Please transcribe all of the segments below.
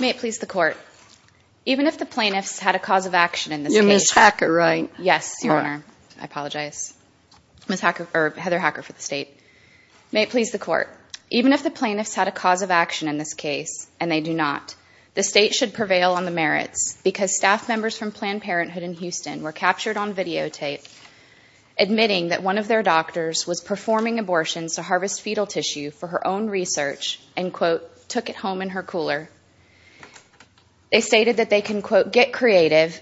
May it please the Court, even if the plaintiffs had a cause of action in this case... You're Ms. Hacker, right? Yes, Your Honor. I apologize. Ms. Hacker, or Heather Hacker for the State. May it please the Court, even if the plaintiffs had a cause of action in this case, and they do not, the State should prevail on the merits because staff members from Planned Parenthood in Houston were captured on videotape admitting that one of their doctors was performing abortions to harvest fetal tissue for her own research and, quote, took it home in her cooler. They stated that they can, quote, get creative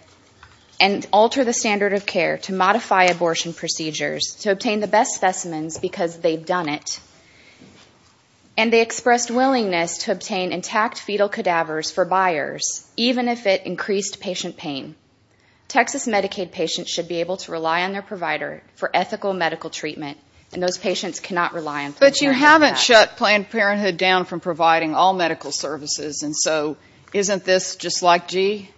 and alter the standard of care to modify abortion procedures to obtain the best specimens because they've done it. And they expressed willingness to obtain intact fetal cadavers for buyers, even if it increased patient pain. Texas Medicaid patients should be able to rely on their provider for ethical medical treatment, and those patients cannot rely on Planned Parenthood for that. And so isn't this just like Gee?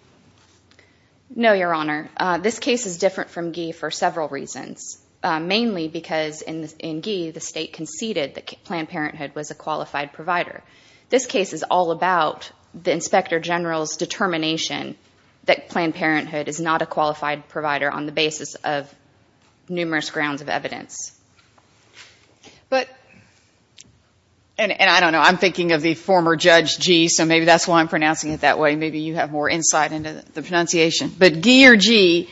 No, Your Honor. This case is different from Gee for several reasons, mainly because in Gee the State conceded that Planned Parenthood was a qualified provider. This case is all about the Inspector General's determination that Planned Parenthood is not a qualified provider on the basis of numerous grounds of evidence. But, and I don't know, I'm thinking of the former Judge Gee, so maybe that's why I'm pronouncing it that way. Maybe you have more insight into the pronunciation. But Gee or Gee,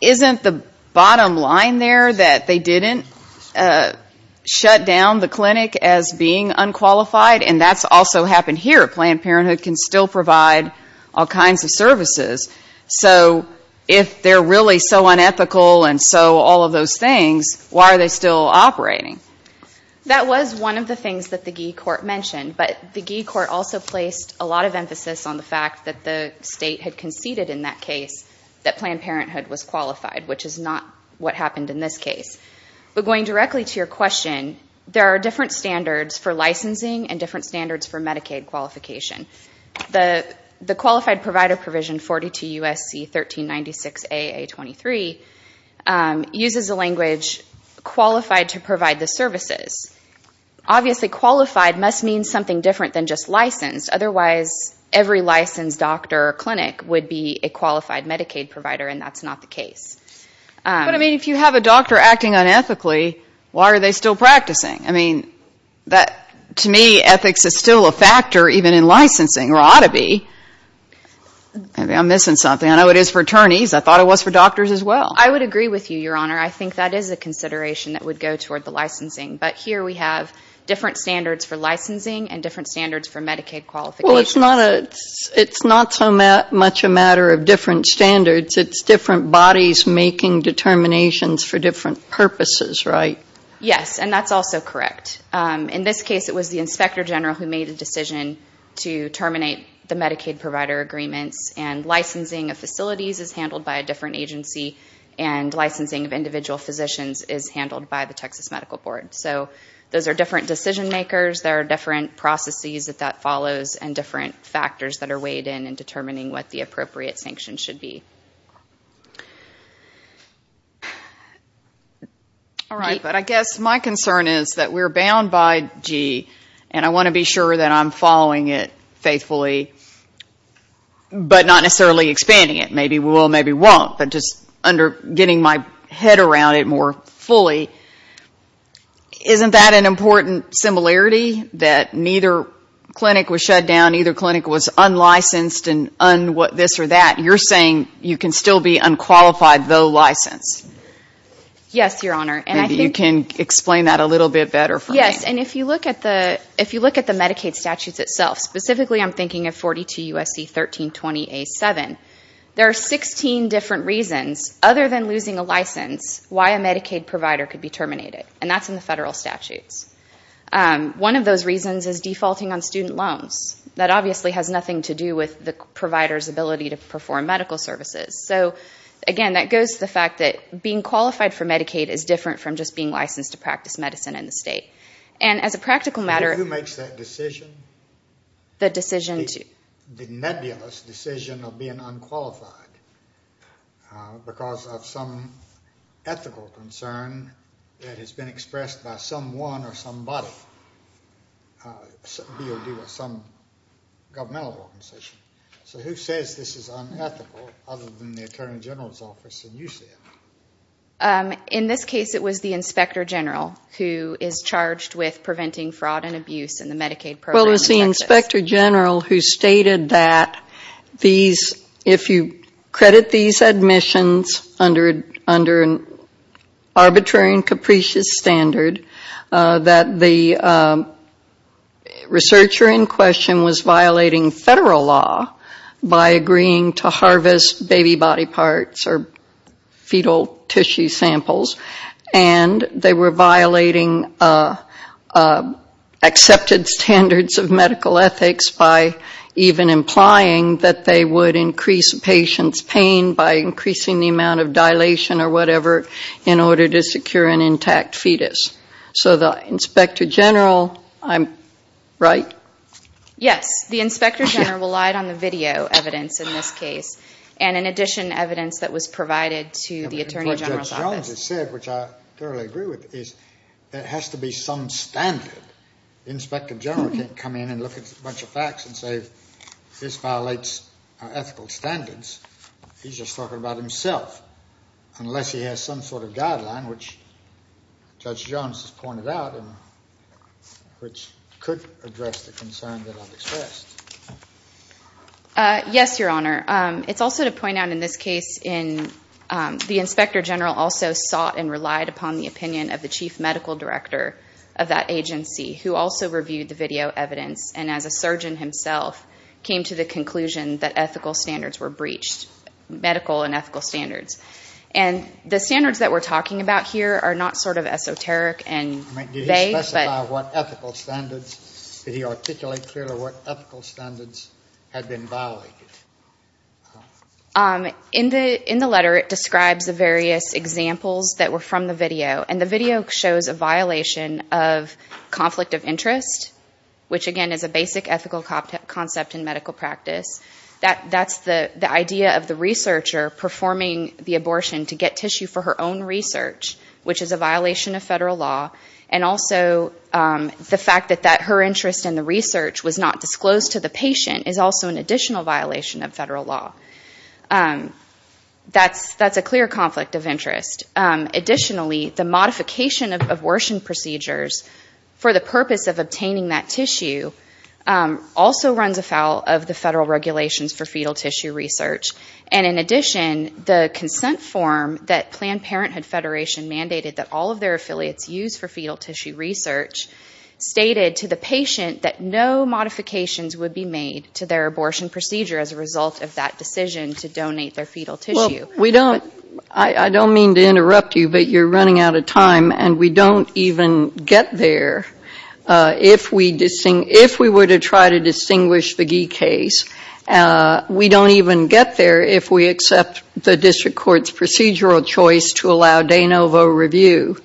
isn't the bottom line there that they didn't shut down the clinic as being unqualified? And that's also happened here. Planned Parenthood can still provide all kinds of services. So if they're really so unethical and so all of those things, why are they still operating? That was one of the things that the Gee court mentioned. But the Gee court also placed a lot of emphasis on the fact that the State had conceded in that case that Planned Parenthood was qualified, which is not what happened in this case. But going directly to your question, there are different standards for licensing and different standards for Medicaid qualification. The Qualified Provider Provision 42 U.S.C. 1396 A.A. 23 uses the language qualified to provide the services. Obviously, qualified must mean something different than just licensed. Otherwise, every licensed doctor or clinic would be a qualified Medicaid provider, and that's not the case. But, I mean, if you have a doctor acting unethically, why are they still practicing? I mean, to me, ethics is still a factor even in licensing, or ought to be. Maybe I'm missing something. I know it is for attorneys. I thought it was for doctors as well. I would agree with you, Your Honor. I think that is a consideration that would go toward the licensing. But here we have different standards for licensing and different standards for Medicaid qualifications. Well, it's not so much a matter of different standards. It's different bodies making determinations for different purposes, right? Yes, and that's also correct. In this case, it was the Inspector General who made the decision to terminate the Medicaid provider agreements, and licensing of facilities is handled by a different agency, and licensing of individual physicians is handled by the Texas Medical Board. So those are different decision makers. There are different processes that that follows and different factors that are weighed in in determining what the appropriate sanctions should be. All right. But I guess my concern is that we're bound by G, and I want to be sure that I'm following it faithfully, but not necessarily expanding it. Maybe we will, maybe we won't, but just getting my head around it more fully. Isn't that an important similarity, that neither clinic was shut down, neither clinic was unlicensed, and this or that? You're saying you can still be unqualified, though licensed? Yes, Your Honor. Maybe you can explain that a little bit better for me. Yes, and if you look at the Medicaid statutes itself, specifically I'm thinking of 42 U.S.C. 1320A7, there are 16 different reasons, other than losing a license, why a Medicaid provider could be terminated, and that's in the federal statutes. One of those reasons is defaulting on student loans. That obviously has nothing to do with the provider's ability to perform medical services. So, again, that goes to the fact that being qualified for Medicaid is different from just being licensed to practice medicine in the state. And as a practical matter- And who makes that decision? The decision to- The nebulous decision of being unqualified because of some ethical concern that has been expressed by someone or somebody, be it some governmental organization. So who says this is unethical, other than the Attorney General's Office, and you said it? In this case, it was the Inspector General, who is charged with preventing fraud and abuse in the Medicaid program in Texas. It was the Inspector General who stated that these, if you credit these admissions under an arbitrary and capricious standard, that the researcher in question was violating federal law by agreeing to harvest baby body parts or fetal tissue samples, and they were violating accepted standards of medical ethics by even implying that they would increase a patient's pain by increasing the amount of dilation or whatever in order to secure an intact fetus. So the Inspector General, right? Yes, the Inspector General relied on the video evidence in this case, and in addition, evidence that was provided to the Attorney General's Office. What Judge Jones has said, which I thoroughly agree with, is there has to be some standard. The Inspector General can't come in and look at a bunch of facts and say, this violates our ethical standards. He's just talking about himself, unless he has some sort of guideline, which Judge Jones has pointed out and which could address the concern that I've expressed. Yes, Your Honor. It's also to point out in this case, the Inspector General also sought and relied upon the opinion of the Chief Medical Director of that agency, who also reviewed the video evidence and, as a surgeon himself, came to the conclusion that ethical standards were breached, medical and ethical standards. And the standards that we're talking about here are not sort of esoteric and vague. Did he specify what ethical standards? Did he articulate clearly what ethical standards had been violated? In the letter, it describes the various examples that were from the video, and the video shows a violation of conflict of interest, which, again, is a basic ethical concept in medical practice. That's the idea of the researcher performing the abortion to get tissue for her own research, which is a violation of federal law, and also the fact that her interest in the research was not disclosed to the patient is also an additional violation of federal law. That's a clear conflict of interest. Additionally, the modification of abortion procedures for the purpose of obtaining that tissue also runs afoul of the federal regulations for fetal tissue research. And in addition, the consent form that Planned Parenthood Federation mandated that all of their affiliates use for fetal tissue research stated to the patient that no modifications would be made to their abortion procedure as a result of that decision to donate their fetal tissue. Well, we don't – I don't mean to interrupt you, but you're running out of time, and we don't even get there. If we were to try to distinguish the Gee case, we don't even get there if we accept the district court's procedural choice to allow de novo review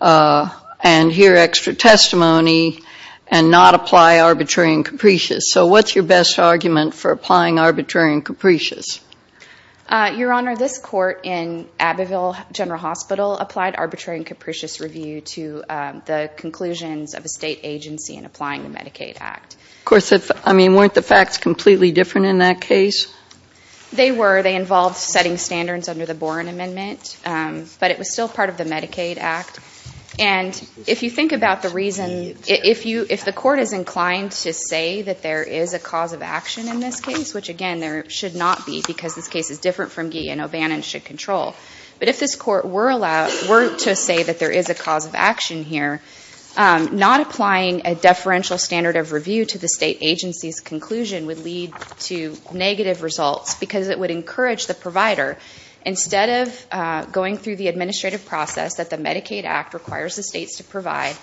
and hear extra testimony and not apply arbitrary and capricious. So what's your best argument for applying arbitrary and capricious? Your Honor, this court in Abbeville General Hospital applied arbitrary and capricious review to the conclusions of a state agency in applying the Medicaid Act. Of course, I mean, weren't the facts completely different in that case? They were. They involved setting standards under the Boren Amendment, but it was still part of the Medicaid Act. And if you think about the reason – if the court is inclined to say that there is a cause of action in this case, which, again, there should not be because this case is different from Gee and O'Bannon should control, but if this court were to say that there is a cause of action here, not applying a deferential standard of review to the state agency's conclusion would lead to negative results because it would encourage the provider, instead of going through the administrative process that the Medicaid Act requires the states to provide,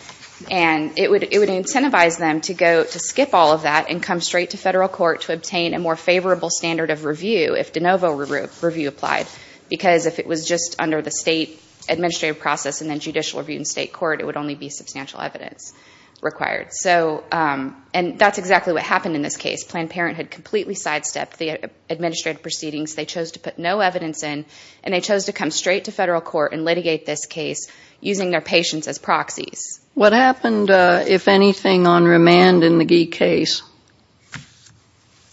and it would incentivize them to skip all of that and come straight to federal court to obtain a more favorable standard of review if de novo review applied because if it was just under the state administrative process and then judicial review in state court, it would only be substantial evidence required. And that's exactly what happened in this case. Planned Parenthood completely sidestepped the administrative proceedings. They chose to put no evidence in, and they chose to come straight to federal court and litigate this case using their patients as proxies. What happened, if anything, on remand in the Gee case?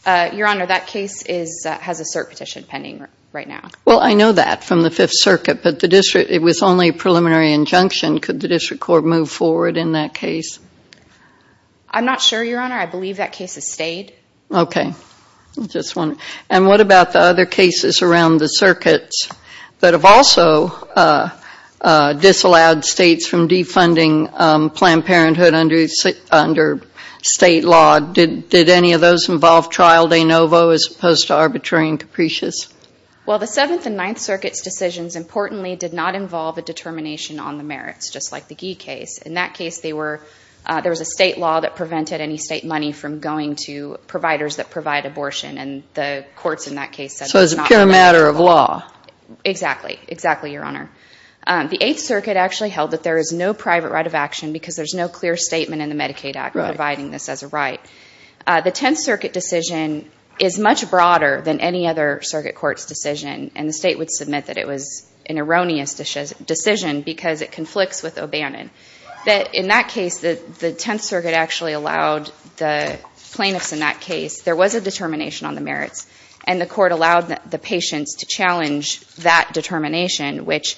Your Honor, that case has a cert petition pending right now. Well, I know that from the Fifth Circuit, but it was only a preliminary injunction. Could the district court move forward in that case? I'm not sure, Your Honor. I believe that case has stayed. Okay. And what about the other cases around the circuits that have also disallowed states from defunding Planned Parenthood under state law? Did any of those involve trial de novo as opposed to arbitrary and capricious? Well, the Seventh and Ninth Circuit's decisions, importantly, did not involve a determination on the merits, just like the Gee case. In that case, there was a state law that prevented any state money from going to providers that provide abortion, and the courts in that case said it was not a matter of law. Exactly. Exactly, Your Honor. The Eighth Circuit actually held that there is no private right of action because there's no clear statement in the Medicaid Act providing this as a right. The Tenth Circuit decision is much broader than any other circuit court's decision, and the state would submit that it was an erroneous decision because it conflicts with O'Bannon. In that case, the Tenth Circuit actually allowed the plaintiffs in that case, there was a determination on the merits, and the court allowed the patients to challenge that determination, which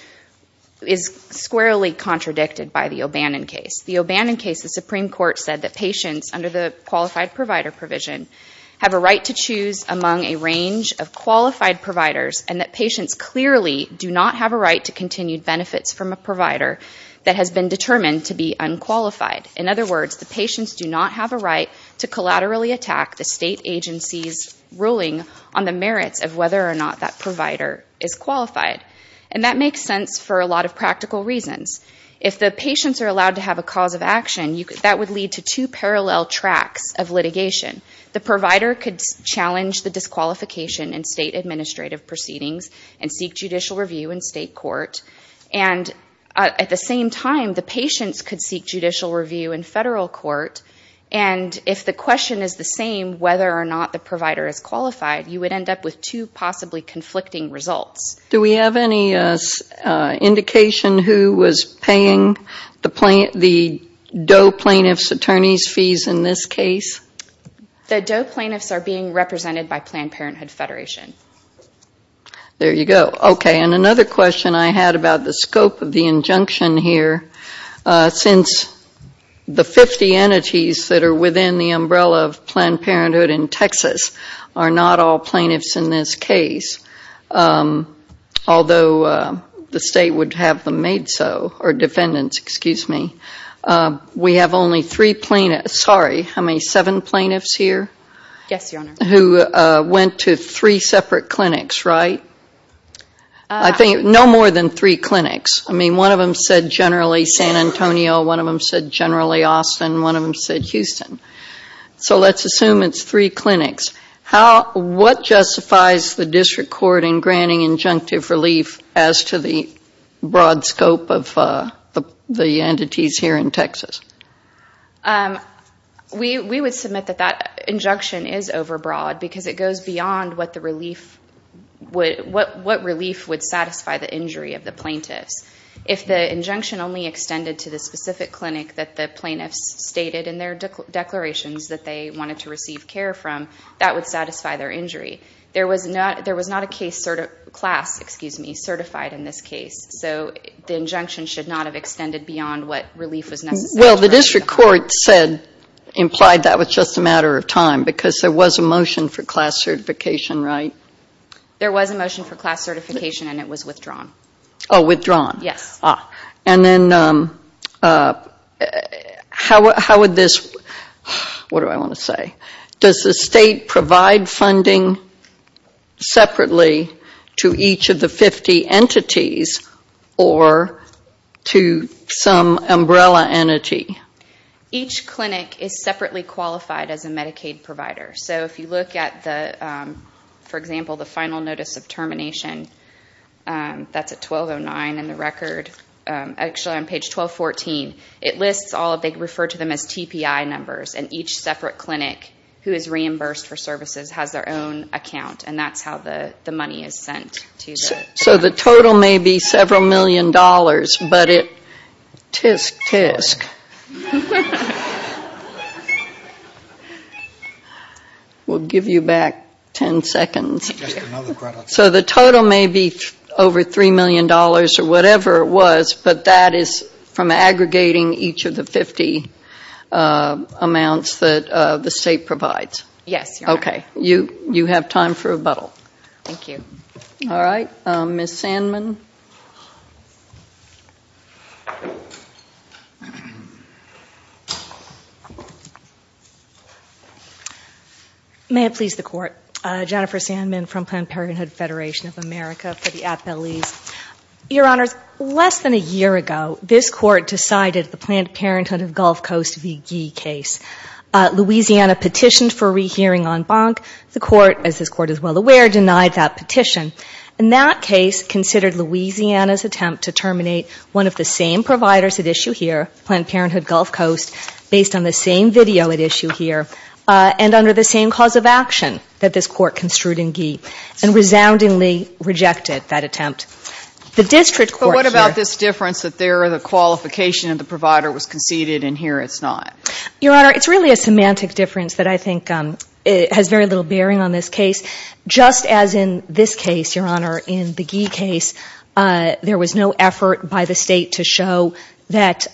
is squarely contradicted by the O'Bannon case. The O'Bannon case, the Supreme Court said that patients, under the qualified provider provision, have a right to choose among a range of qualified providers and that patients clearly do not have a right to continued benefits from a provider that has been determined to be unqualified. In other words, the patients do not have a right to collaterally attack the state agency's ruling on the merits of whether or not that provider is qualified. And that makes sense for a lot of practical reasons. If the patients are allowed to have a cause of action, that would lead to two parallel tracks of litigation. The provider could challenge the disqualification in state administrative proceedings and seek judicial review in state court, and at the same time the patients could seek judicial review in federal court, and if the question is the same whether or not the provider is qualified, you would end up with two possibly conflicting results. Do we have any indication who was paying the DOE plaintiff's attorney's fees in this case? The DOE plaintiffs are being represented by Planned Parenthood Federation. There you go. Okay, and another question I had about the scope of the injunction here, since the 50 entities that are within the umbrella of Planned Parenthood in Texas are not all plaintiffs in this case, although the state would have them made so, or defendants, excuse me. We have only three plaintiffs, sorry, how many, seven plaintiffs here? Yes, Your Honor. Who went to three separate clinics, right? I think no more than three clinics. I mean, one of them said generally San Antonio, one of them said generally Austin, one of them said Houston. So let's assume it's three clinics. What justifies the district court in granting injunctive relief as to the broad scope of the entities here in Texas? We would submit that that injunction is overbroad because it goes beyond what relief would satisfy the injury of the plaintiffs. If the injunction only extended to the specific clinic that the plaintiffs stated in their declarations that they wanted to receive care from, that would satisfy their injury. There was not a case class, excuse me, certified in this case, so the injunction should not have extended beyond what relief was necessary. Well, the district court said, implied that was just a matter of time, because there was a motion for class certification, right? There was a motion for class certification, and it was withdrawn. Oh, withdrawn. Yes. And then how would this – what do I want to say? Does the state provide funding separately to each of the 50 entities or to some umbrella entity? Each clinic is separately qualified as a Medicaid provider. So if you look at, for example, the final notice of termination, that's at 1209 in the record. Actually, on page 1214, it lists all – they refer to them as TPI numbers, and each separate clinic who is reimbursed for services has their own account, and that's how the money is sent. So the total may be several million dollars, but it – tsk, tsk. We'll give you back 10 seconds. So the total may be over $3 million or whatever it was, but that is from aggregating each of the 50 amounts that the state provides? Yes. Okay. You have time for rebuttal. Thank you. All right. Ms. Sandman. May it please the Court. Jennifer Sandman from Planned Parenthood Federation of America for the Appellees. Your Honors, less than a year ago, this Court decided the Planned Parenthood of Gulf Coast VGIE case. Louisiana petitioned for rehearing en banc. The Court, as this Court is well aware, denied that petition. And that case considered Louisiana's attempt to terminate one of the same providers at issue here, Planned Parenthood Gulf Coast, based on the same video at issue here, and under the same cause of action that this Court construed in VGIE, and resoundingly rejected that attempt. The district court here – But what about this difference that there the qualification of the provider was conceded, and here it's not? Your Honor, it's really a semantic difference that I think has very little bearing on this case. Just as in this case, Your Honor, in the VGIE case, there was no effort by the State to show that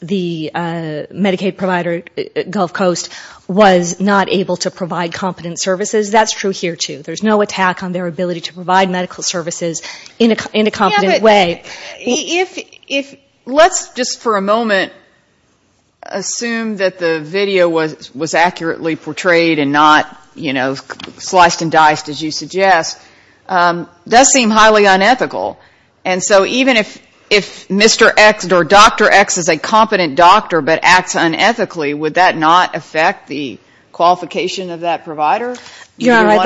the Medicaid provider, Gulf Coast, was not able to provide competent services. That's true here, too. There's no attack on their ability to provide medical services in a competent way. If – let's just for a moment assume that the video was accurately portrayed and not, you know, sliced and diced, as you suggest. That seems highly unethical. And so even if Mr. X or Dr. X is a competent doctor but acts unethically, would that not affect the qualification of that provider? Your Honor, I think – Your Honor, I'd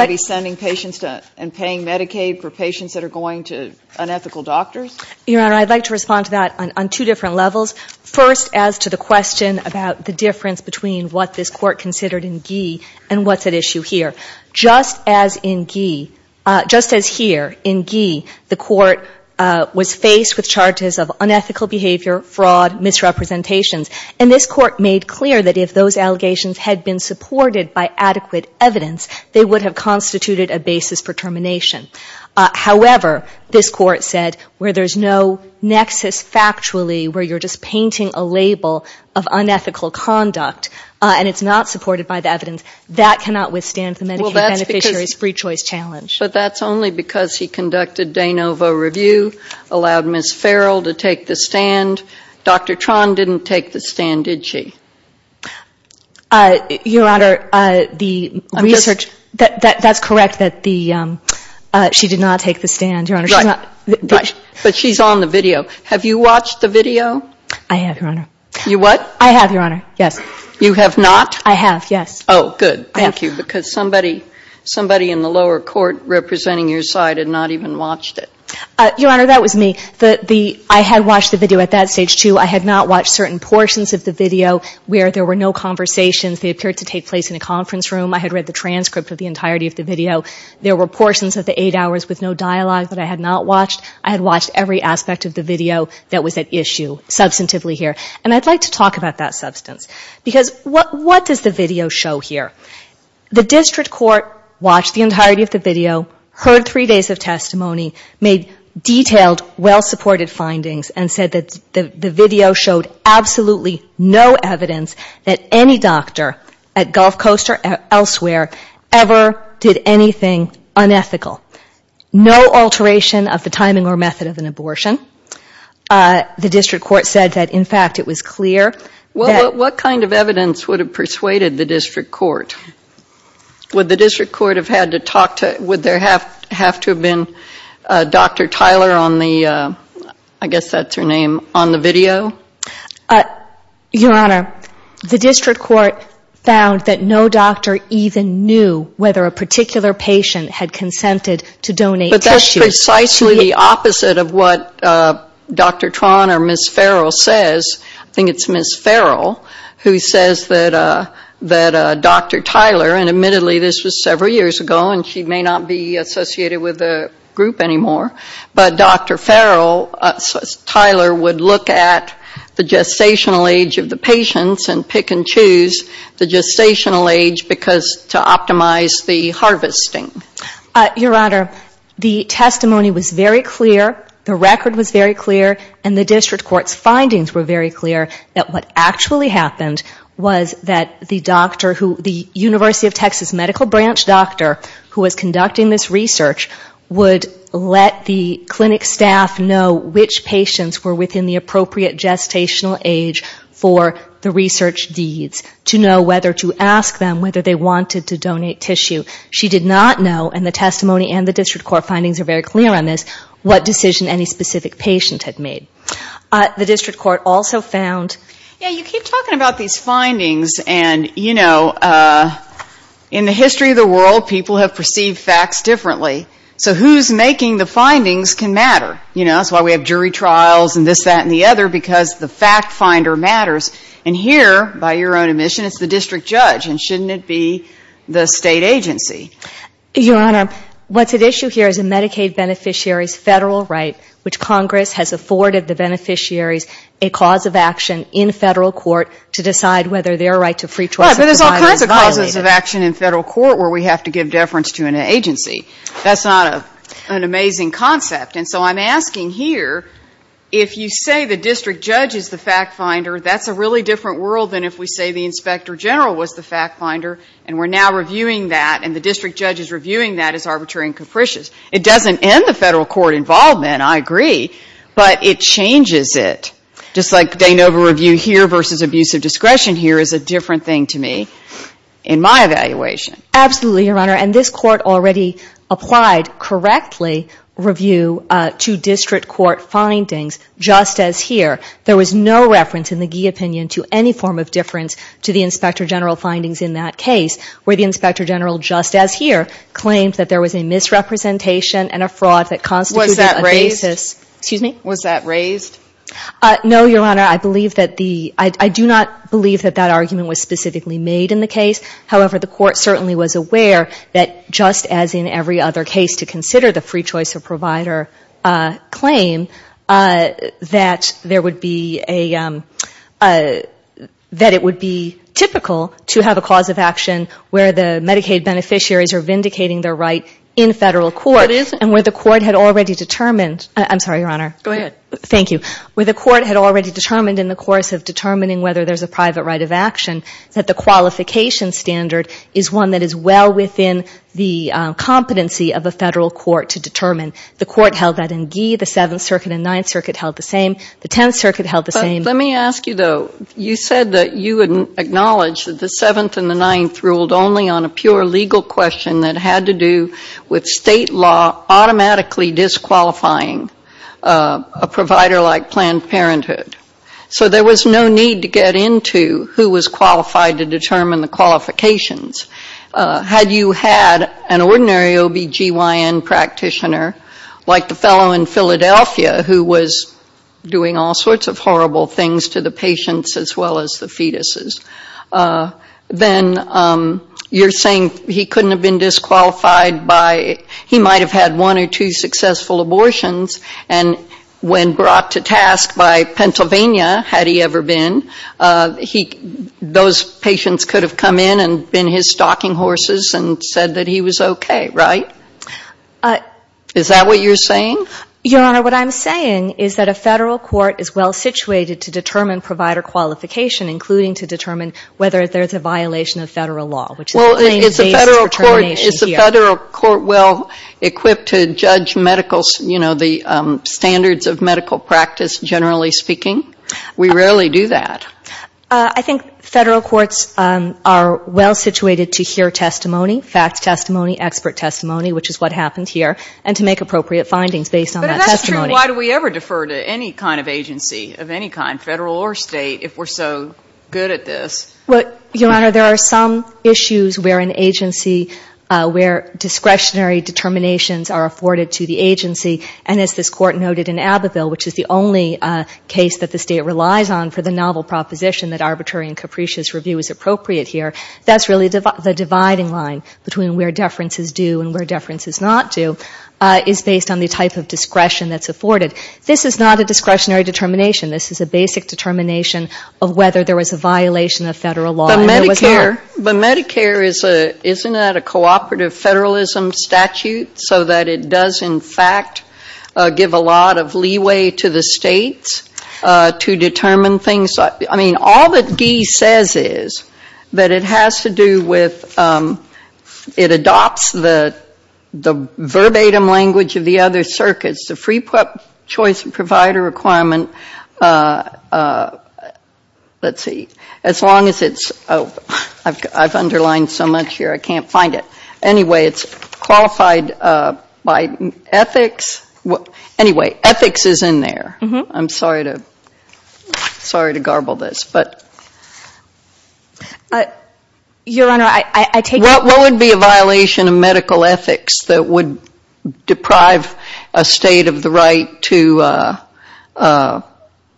like to respond to that on two different levels. First, as to the question about the difference between what this court considered in VGIE and what's at issue here. Just as in VGIE – just as here, in VGIE, the court was faced with charges of unethical behavior, fraud, misrepresentations. And this court made clear that if those allegations had been supported by adequate evidence, they would have constituted a basis for termination. However, this court said where there's no nexus factually where you're just painting a label of unethical conduct and it's not supported by the evidence, that cannot withstand the Medicaid beneficiary's free choice challenge. But that's only because he conducted de novo review, allowed Ms. Farrell to take the stand. Dr. Tran didn't take the stand, did she? Your Honor, the research – that's correct that the – she did not take the stand, Your Honor. Right, right. But she's on the video. Have you watched the video? I have, Your Honor. You what? I have, Your Honor, yes. You have not? I have, yes. Oh, good. Thank you. Because somebody in the lower court representing your side had not even watched it. Your Honor, that was me. I had watched the video at that stage, too. I had not watched certain portions of the video where there were no conversations. They appeared to take place in a conference room. I had read the transcript of the entirety of the video. There were portions of the eight hours with no dialogue that I had not watched. I had watched every aspect of the video that was at issue substantively here. And I'd like to talk about that substance because what does the video show here? The district court watched the entirety of the video, heard three days of testimony, made detailed, well-supported findings, and said that the video showed absolutely no evidence that any doctor at Gulf Coast or elsewhere ever did anything unethical. No alteration of the timing or method of an abortion. The district court said that, in fact, it was clear. Well, what kind of evidence would have persuaded the district court? Would the district court have had to talk to, would there have to have been Dr. Tyler on the, I guess that's her name, on the video? Your Honor, the district court found that no doctor even knew whether a particular patient had consented to donate tissues. But that's precisely the opposite of what Dr. Tran or Ms. Farrell says. I think it's Ms. Farrell who says that Dr. Tyler, and admittedly this was several years ago and she may not be associated with the group anymore, but Dr. Farrell, Tyler would look at the gestational age of the patients and pick and choose the gestational age because to optimize the harvesting. Your Honor, the testimony was very clear, the record was very clear, and the district court's findings were very clear that what actually happened was that the doctor who, the University of Texas Medical Branch doctor who was conducting this research, would let the clinic staff know which patients were within the appropriate gestational age for the research deeds, to know whether to ask them whether they wanted to donate tissue. She did not know, and the testimony and the district court findings are very clear on this, what decision any specific patient had made. The district court also found... Yeah, you keep talking about these findings and, you know, in the history of the world, people have perceived facts differently, so who's making the findings can matter. You know, that's why we have jury trials and this, that, and the other, because the fact finder matters. And here, by your own admission, it's the district judge, and shouldn't it be the state agency? Your Honor, what's at issue here is a Medicaid beneficiary's federal right, which Congress has afforded the beneficiaries a cause of action in federal court to decide whether their right to free choice of provider is violated. Right, but there's all kinds of causes of action in federal court where we have to give deference to an agency. That's not an amazing concept. And so I'm asking here, if you say the district judge is the fact finder, that's a really different world than if we say the inspector general was the fact finder, and we're now reviewing that, and the district judge is reviewing that as arbitrary and capricious. It doesn't end the federal court involvement, I agree, but it changes it. Just like de novo review here versus abusive discretion here is a different thing to me in my evaluation. Absolutely, Your Honor, and this court already applied correctly review to district court findings just as here. There was no reference in the Gee opinion to any form of difference to the inspector general findings in that case, where the inspector general just as here claimed that there was a misrepresentation and a fraud that constituted a basis. Excuse me? Was that raised? No, Your Honor. I do not believe that that argument was specifically made in the case. However, the court certainly was aware that just as in every other case to consider the free choice of provider claim, that it would be typical to have a cause of action where the Medicaid beneficiaries are vindicating their right in federal court, and where the court had already determined in the course of determining whether there's a private right of action, that the qualification standard is one that is well within the competency of a federal court to determine. The court held that in Gee. The Seventh Circuit and Ninth Circuit held the same. The Tenth Circuit held the same. Let me ask you, though. You said that you would acknowledge that the Seventh and the Ninth ruled only on a pure legal question that had to do with state law automatically disqualifying a provider like Planned Parenthood. So there was no need to get into who was qualified to determine the qualifications. Had you had an ordinary OBGYN practitioner, like the fellow in Philadelphia, who was doing all sorts of horrible things to the patients as well as the fetuses, then you're saying he couldn't have been disqualified by, he might have had one or two successful abortions, and when brought to task by Pennsylvania, had he ever been, those patients could have come in and been his stalking horses and said that he was okay, right? Is that what you're saying? Your Honor, what I'm saying is that a federal court is well situated to determine provider qualification, including to determine whether there's a violation of federal law. Is a federal court well equipped to judge medical, you know, the standards of medical practice, generally speaking? We rarely do that. I think federal courts are well situated to hear testimony, fact testimony, expert testimony, which is what happened here, and to make appropriate findings based on that testimony. But that's true. Why do we ever defer to any kind of agency of any kind, federal or state, if we're so good at this? Your Honor, there are some issues where an agency, where discretionary determinations are afforded to the agency, and as this Court noted in Abbeville, which is the only case that the State relies on for the novel proposition that arbitrary and capricious review is appropriate here, that's really the dividing line between where deference is due and where deference is not due, is based on the type of discretion that's afforded. This is not a discretionary determination. This is a basic determination of whether there was a violation of federal law. But Medicare, isn't that a cooperative federalism statute, so that it does in fact give a lot of leeway to the States to determine things? I mean, all that Guy says is that it has to do with, it adopts the verbatim language of the other circuits. The free choice provider requirement, let's see, as long as it's, oh, I've underlined so much here I can't find it. Anyway, it's qualified by ethics. Anyway, ethics is in there. I'm sorry to garble this. Your Honor, I take it. What would be a violation of medical ethics that would deprive a State of the right to, of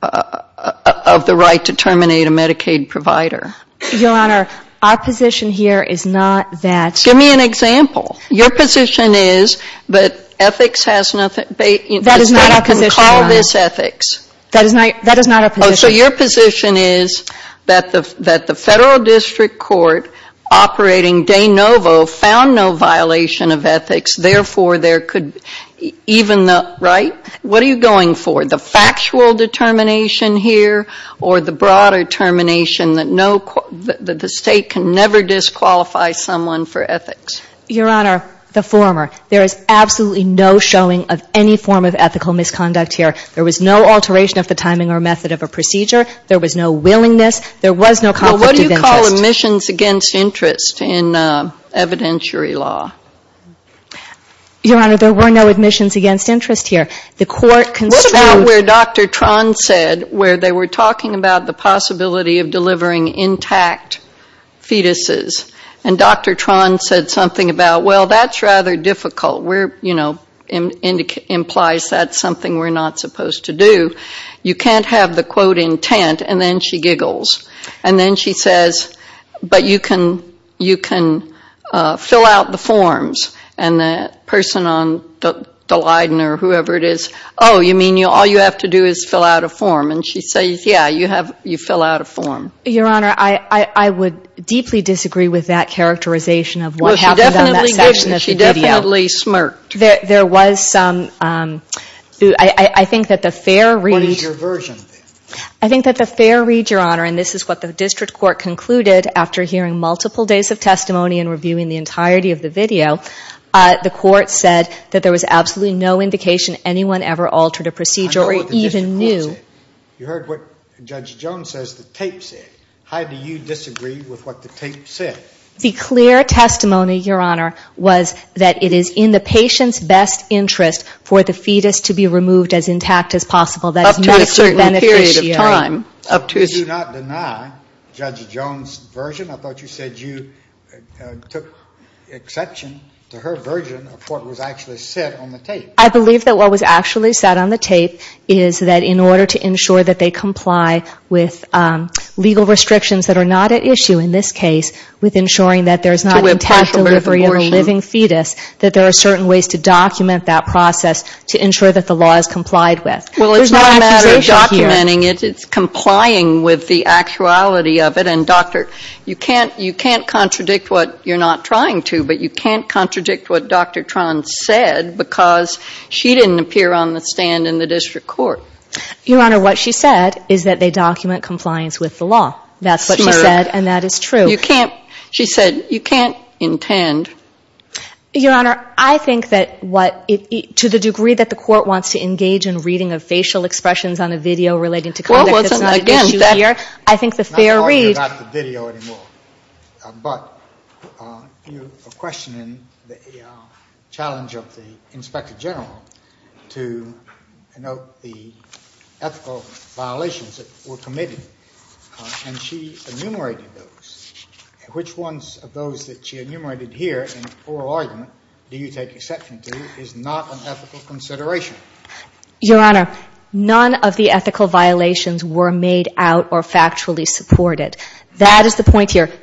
the right to terminate a Medicaid provider? Your Honor, our position here is not that. Give me an example. Your position is that ethics has nothing, call this ethics. So your position is that the federal district court operating de novo found no violation of ethics, therefore there could even, right? What are you going for, the factual determination here or the broader determination that no, that the State can never disqualify someone for ethics? Your Honor, the former. There is absolutely no showing of any form of ethical misconduct here. There was no alteration of the timing or method of a procedure. There was no willingness. There was no conflict of interest. Well, what do you call admissions against interest in evidentiary law? Your Honor, there were no admissions against interest here. What about where Dr. Tron said, where they were talking about the possibility of delivering intact fetuses? And Dr. Tron said something about, well, that's rather difficult. We're, you know, implies that's something we're not supposed to do. You can't have the, quote, intent, and then she giggles. And then she says, but you can fill out the form. And the person on the Leiden or whoever it is, oh, you mean all you have to do is fill out a form? And she says, yeah, you fill out a form. Your Honor, I would deeply disagree with that characterization of what happened on that section of the video. She definitely smirked. There was some, I think that the fair read. What is your version? I think that the fair read, Your Honor, and this is what the district court concluded after hearing multiple days of testimony and reviewing the entirety of the video. The court said that there was absolutely no indication anyone ever altered a procedure or even knew. You heard what Judge Jones says the tape said. How do you disagree with what the tape said? The clear testimony, Your Honor, was that it is in the patient's best interest for the fetus to be removed as intact as possible. Up to a certain period of time. Did you not deny Judge Jones' version? I thought you said you took exception to her version of what was actually said on the tape. I believe that what was actually said on the tape is that in order to ensure that they comply with legal restrictions that are not at issue in this case, with ensuring that there's not intact delivery of a living fetus, that there are certain ways to document that process to ensure that the law is complied with. It's not a matter of documenting it, it's complying with the actuality of it. You can't contradict what you're not trying to, but you can't contradict what Dr. Tron said because she didn't appear on the stand in the district court. Your Honor, what she said is that they document compliance with the law. Smirk. That's what she said, and that is true. You can't, she said, you can't intend. Your Honor, I think that what, to the degree that the court wants to engage in reading of facial expressions on a video relating to conduct that's not at issue here, that is not at issue in this case. Your Honor, I think that what she said is that the court wants to engage in reading of facial expressions on a video relating to conduct that's not at issue here. Your Honor, none of the ethical violations were made out or factually supported.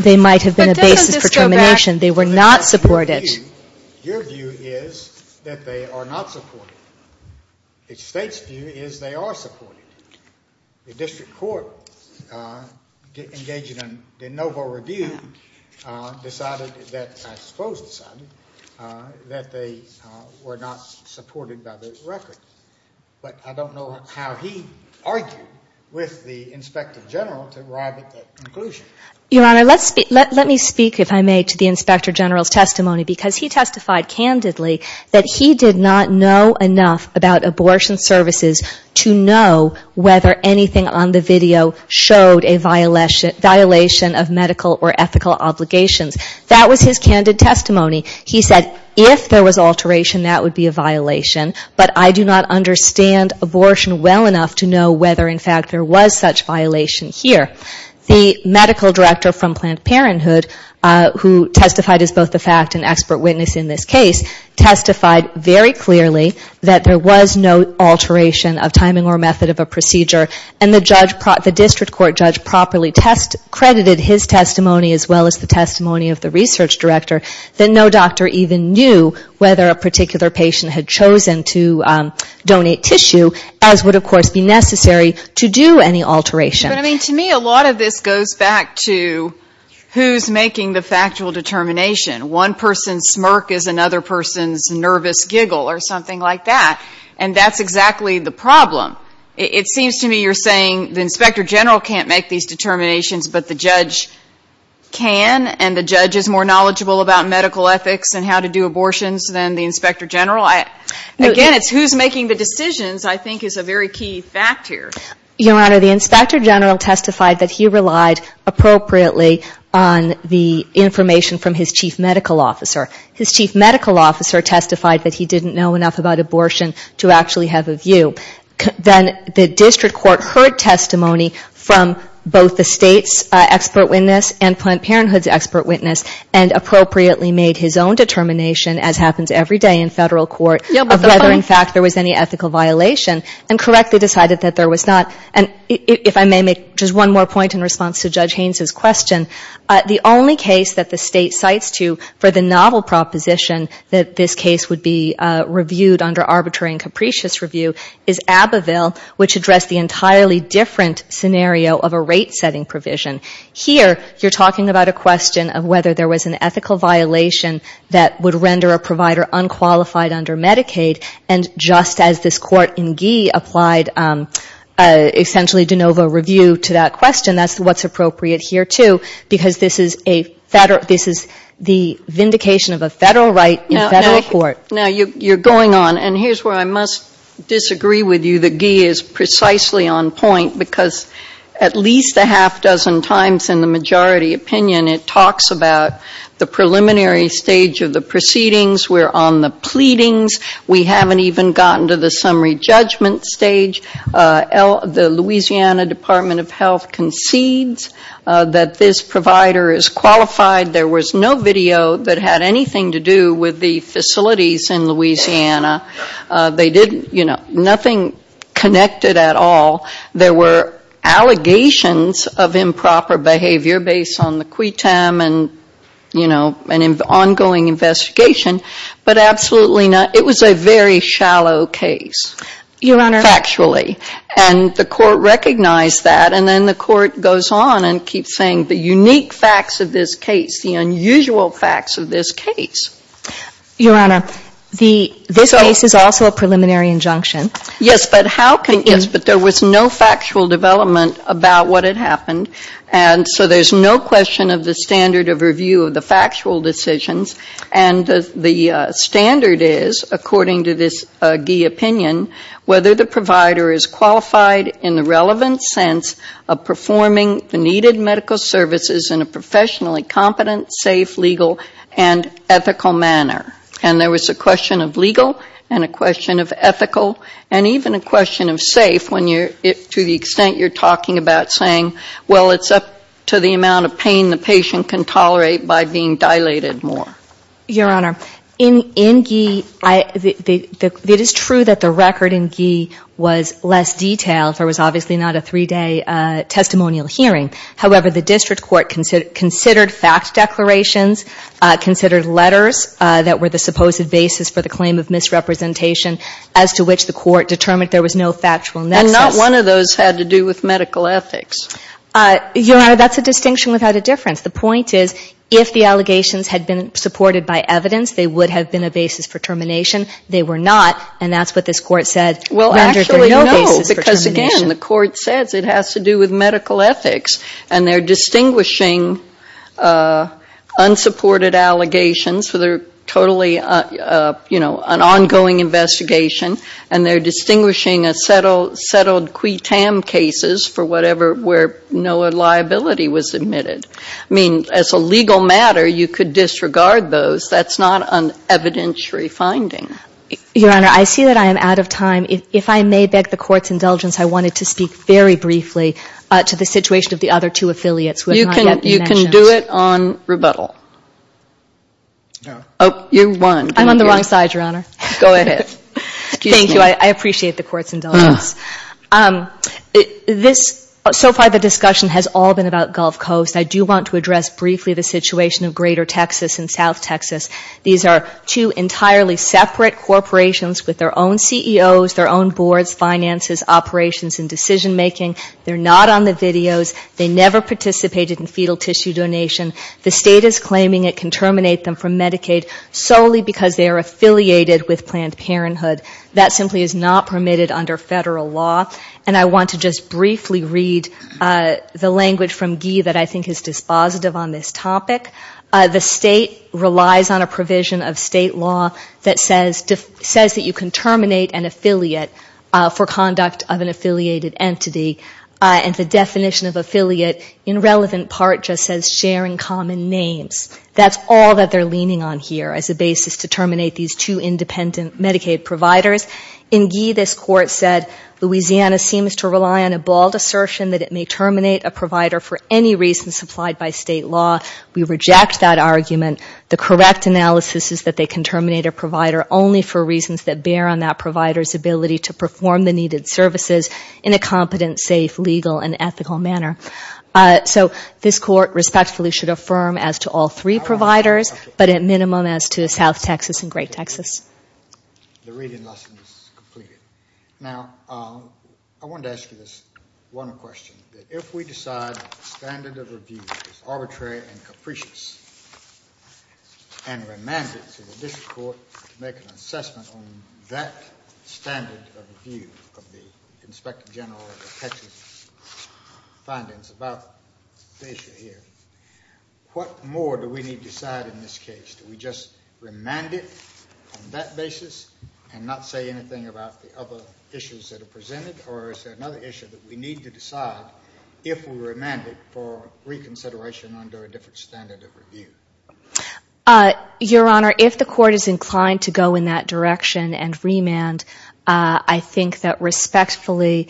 They might have been a basis for termination. They were not supported. Your view is that they are not supported. The state's view is they are supported. The district court engaged in a novel review decided that, I suppose decided, that they were not supported by the record. But I don't know how he argued with the Inspector General to arrive at that conclusion. Your Honor, let me speak, if I may, to the Inspector General's testimony, because he testified candidly that he did not know enough about abortion services to know whether anything on the video showed a violation of medical or ethical obligations. That was his candid testimony. He did not understand abortion well enough to know whether, in fact, there was such violation here. The medical director from Planned Parenthood, who testified as both the fact and expert witness in this case, testified very clearly that there was no alteration of timing or method of a procedure. And the district court judge properly credited his testimony, as well as the testimony of the research director, that no doctor even knew whether a particular patient had chosen to have an abortion. And the district court judge did not know whether a particular patient had chosen to donate tissue, as would, of course, be necessary to do any alteration. But, I mean, to me, a lot of this goes back to who's making the factual determination. One person's smirk is another person's nervous giggle or something like that. And that's exactly the problem. It seems to me you're saying the Inspector General can't make these determinations, but the judge can, and the judge is more knowledgeable about medical ethics and how to do abortions than the Inspector General. Again, it's who's making the decisions, I think, is a very key fact here. Your Honor, the Inspector General testified that he relied appropriately on the information from his chief medical officer. His chief medical officer testified that he didn't know enough about abortion to actually have a view. Then the district court heard testimony from both the state's expert witness and Planned Parenthood's expert witness, and appropriately made his own determination, as happens every day in federal courts. Whether, in fact, there was any ethical violation, and correctly decided that there was not. And if I may make just one more point in response to Judge Haynes' question, the only case that the state cites to for the novel proposition that this case would be reviewed under arbitrary and capricious review is Abbeville, which addressed the entirely different scenario of a rate-setting provision. Here, you're talking about a question of whether there was an ethical violation that would render a provider unqualified under medical ethics. That's what's appropriate here, too, because this is a federal, this is the vindication of a federal right in federal court. Now, you're going on, and here's where I must disagree with you. The Gee is precisely on point, because at least a half-dozen times in the majority opinion, it talks about the preliminary stage of the proceedings. We're on the pleadings. We haven't even gotten to the summary judgment stage. The Louisiana Department of Health concedes that this provider is qualified. There was no video that had anything to do with the facilities in Louisiana. They didn't, you know, nothing connected at all. There were allegations of improper behavior based on the quitam and, you know, an ongoing investigation, but absolutely not. It was a very shallow case, factually. And the court recognized that, and then the court goes on and keeps saying the unique facts of this case, the unusual facts of this case. Your Honor, this case is also a preliminary injunction. Yes, but there was no factual development about what had happened. And so there's no question of the standard of review of the factual decisions. And the standard is, according to this Gee opinion, whether the provider is qualified in the relevant sense of performing the needed medical services in a professionally competent, safe, legal and ethical manner. And there was a question of legal and a question of ethical and even a question of safe when you're, to the extent you're talking about saying, well, it's up to the amount of pain the patient can tolerate by being dilated more. Your Honor, in Gee, it is true that the record in Gee was less detailed. There was obviously not a three-day testimonial hearing. However, the district court considered fact declarations, considered letters that were the supposed basis for the claim of misrepresentation, as to which the court determined there was no factual nexus. And not one of those had to do with medical ethics. Your Honor, that's a distinction without a difference. The point is, if the allegations had been supported by evidence, they would have been a basis for termination. They were not, and that's what this court said. Well, actually, no, because again, the court says it has to do with medical ethics. And they're distinguishing unsupported allegations, so they're totally, you know, an ongoing investigation. And they're distinguishing a settled qui tam cases for whatever, where no liability was admitted. I mean, as a legal matter, you could disregard those. Your Honor, I see that I am out of time. If I may beg the Court's indulgence, I wanted to speak very briefly to the situation of the other two affiliates who have not yet been mentioned. You can do it on rebuttal. I'm on the wrong side, Your Honor. Go ahead. Thank you. I appreciate the Court's indulgence. So far the discussion has all been about Gulf Coast. I do want to address briefly the situation of Greater Texas and South Texas. These are two entirely separate corporations with their own CEOs, their own boards, finances, operations and decision making. They're not on the videos. They never participated in fetal tissue donation. The state is claiming it can terminate them from Medicaid solely because they are affiliated with Planned Parenthood. That simply is not permitted under federal law. And I want to just briefly read the language from Guy that I think is dispositive on this topic. The state relies on a provision of state law that says that you can terminate an affiliate for conduct of an affiliated entity. And the definition of affiliate in relevant part just says sharing common names. That's all that they're leaning on here as a basis to terminate these two independent Medicaid providers. In Guy this Court said Louisiana seems to rely on a bald assertion that it may terminate a provider for any reason supplied by state law. We reject that argument. The correct analysis is that they can terminate a provider only for reasons that bear on that provider's ability to perform the needed services in a competent, safe, legal and ethical manner. So this Court respectfully should affirm as to all three providers, but at minimum as to South Texas and Great Texas. The reading lesson is completed. Now I wanted to ask you this one question. If we decide that the standard of review is arbitrary and capricious and remand it to the District Court to make an assessment on that standard of review of the Inspector General of Texas findings about the issue here, what more do we need to decide in this case? Do we just remand it on that basis and not say anything about the other issues that are presented? Or is there another issue that we need to decide if we remand it for reconsideration under a different standard of review? Your Honor, if the Court is inclined to go in that direction and remand, I think that respectfully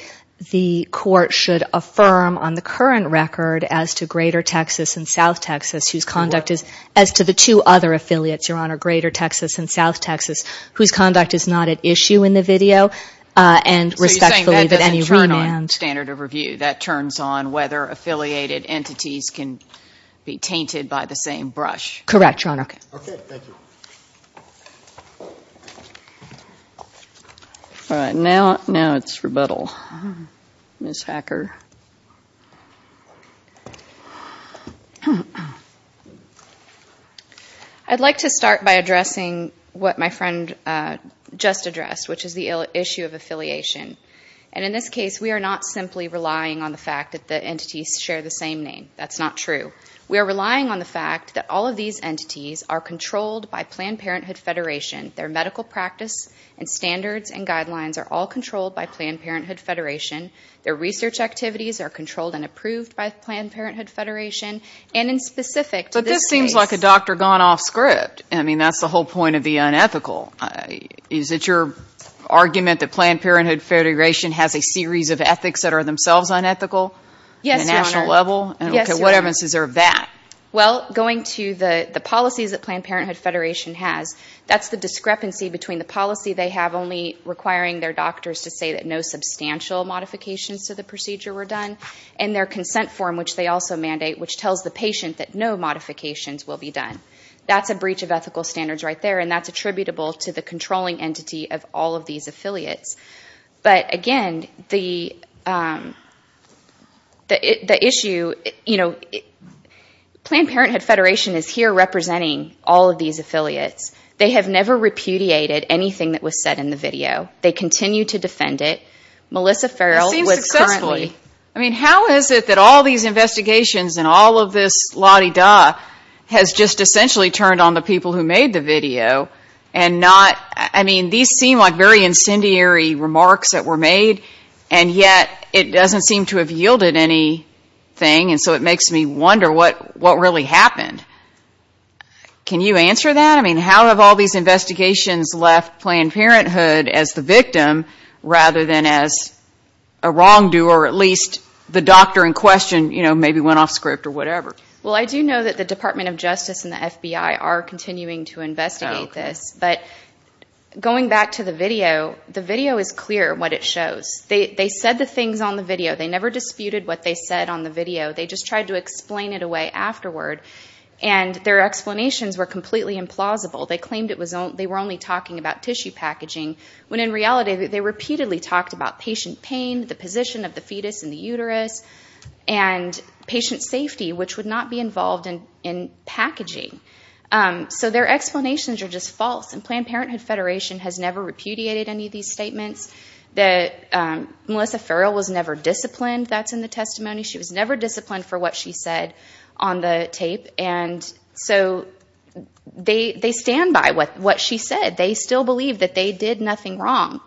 the Court should affirm on the current record as to Greater Texas and South Texas whose conduct is as to the two other affiliates. Your Honor, Greater Texas and South Texas whose conduct is not at issue in the video and respectfully that any remand. So you're saying that doesn't turn on standard of review? That turns on whether affiliated entities can be tainted by the same brush? Correct, Your Honor. Okay, thank you. I'd like to start by addressing what my friend just addressed, which is the issue of affiliation. And in this case, we are not simply relying on the fact that the entities share the same name. That's not true. We are relying on the fact that all of these entities are controlled by Planned Parenthood Federation. Their medical practice and standards and guidelines are all controlled by Planned Parenthood Federation. Their research activities are controlled and approved by Planned Parenthood Federation. But this seems like a doctor-gone-off script. I mean, that's the whole point of the unethical. Is it your argument that Planned Parenthood Federation has a series of ethics that are themselves unethical? Yes, Your Honor. Well, going to the policies that Planned Parenthood Federation has, that's the discrepancy between the policy they have only requiring their doctors to say that no substantial modifications to the procedure were done, and their consent form, which they also mandate, which does not require any modification. It tells the patient that no modifications will be done. That's a breach of ethical standards right there, and that's attributable to the controlling entity of all of these affiliates. But again, the issue, you know, Planned Parenthood Federation is here representing all of these affiliates. They have never repudiated anything that was said in the video. They continue to defend it. I mean, how is it that all of these investigations and all of this la-di-da has just essentially turned on the people who made the video, and not, I mean, these seem like very incendiary remarks that were made, and yet it doesn't seem to have yielded anything, and so it makes me wonder what really happened. Can you answer that? I mean, how have all these investigations left Planned Parenthood as the victim, rather than as the perpetrator? As a wrongdoer, at least the doctor in question, you know, maybe went off script or whatever. Well, I do know that the Department of Justice and the FBI are continuing to investigate this. But going back to the video, the video is clear what it shows. They said the things on the video. They never disputed what they said on the video. They just tried to explain it away afterward, and their explanations were completely implausible. They claimed they were only talking about tissue packaging, when in reality they repeatedly talked about patient pain, the position of the fetus in the uterus, and patient safety, which would not be involved in packaging. So their explanations are just false, and Planned Parenthood Federation has never repudiated any of these statements. Melissa Farrell was never disciplined. That's in the testimony. She was never disciplined for what she said on the tape. And so they stand by what she said. They still believe that they did nothing wrong.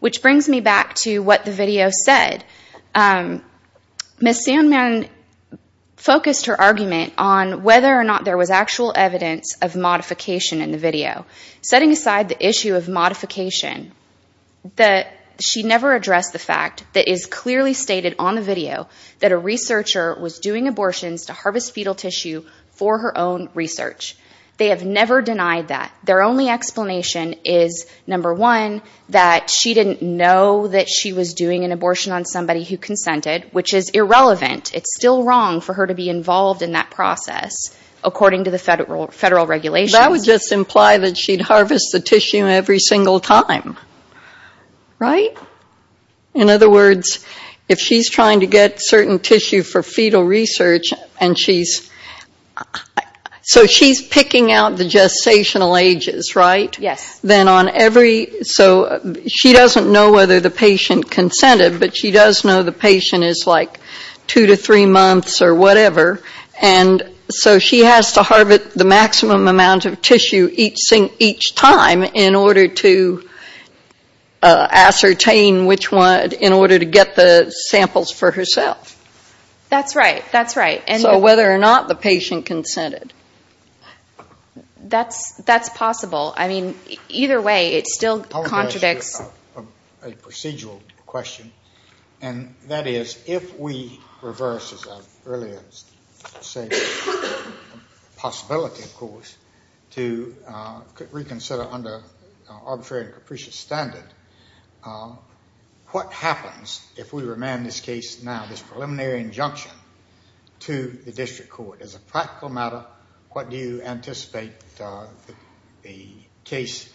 Which brings me back to what the video said. Ms. Sandman focused her argument on whether or not there was actual evidence of modification in the video. Setting aside the issue of modification, she never addressed the fact that is clearly stated on the video that a researcher was doing abortions to harvest fetal tissue for her own research. They have never denied that. Their only explanation is, number one, that she didn't know that she was doing an abortion on somebody who consented, which is irrelevant. It's still wrong for her to be involved in that process, according to the federal regulations. That would just imply that she'd harvest the tissue every single time, right? In other words, if she's trying to get certain tissue for fetal research, and she's... So she's picking out the gestational ages, right? So she doesn't know whether the patient consented, but she does know the patient is like two to three months or whatever. And so she has to harvest the maximum amount of tissue each time in order to ascertain which one, in order to get the samples for herself. That's right, that's right. So whether or not the patient consented. That's possible. I mean, either way, it still contradicts... a procedural question, and that is, if we reverse, as I've earlier said, the possibility, of course, to reconsider under arbitrary and capricious standard, what happens if we remand this case now, this preliminary injunction, to the district court? As a practical matter, what do you anticipate the case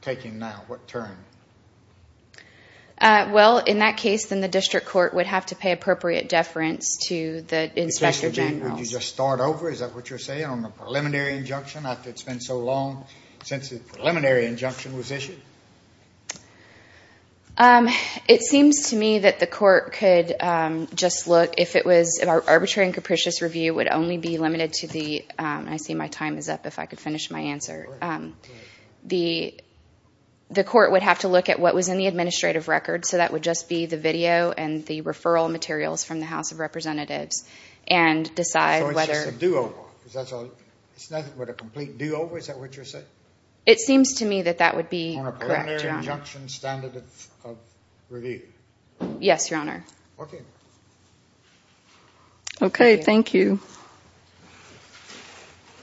taking now? At what turn? Well, in that case, then the district court would have to pay appropriate deference to the inspector general. Would you just start over, is that what you're saying, on the preliminary injunction, after it's been so long since the preliminary injunction was issued? It seems to me that the court could just look, if it was... an arbitrary and capricious review would only be limited to the... district court would have to look at what was in the administrative record, so that would just be the video and the referral materials from the House of Representatives, and decide whether... It seems to me that that would be correct, Your Honor. Yes, Your Honor. Okay, thank you.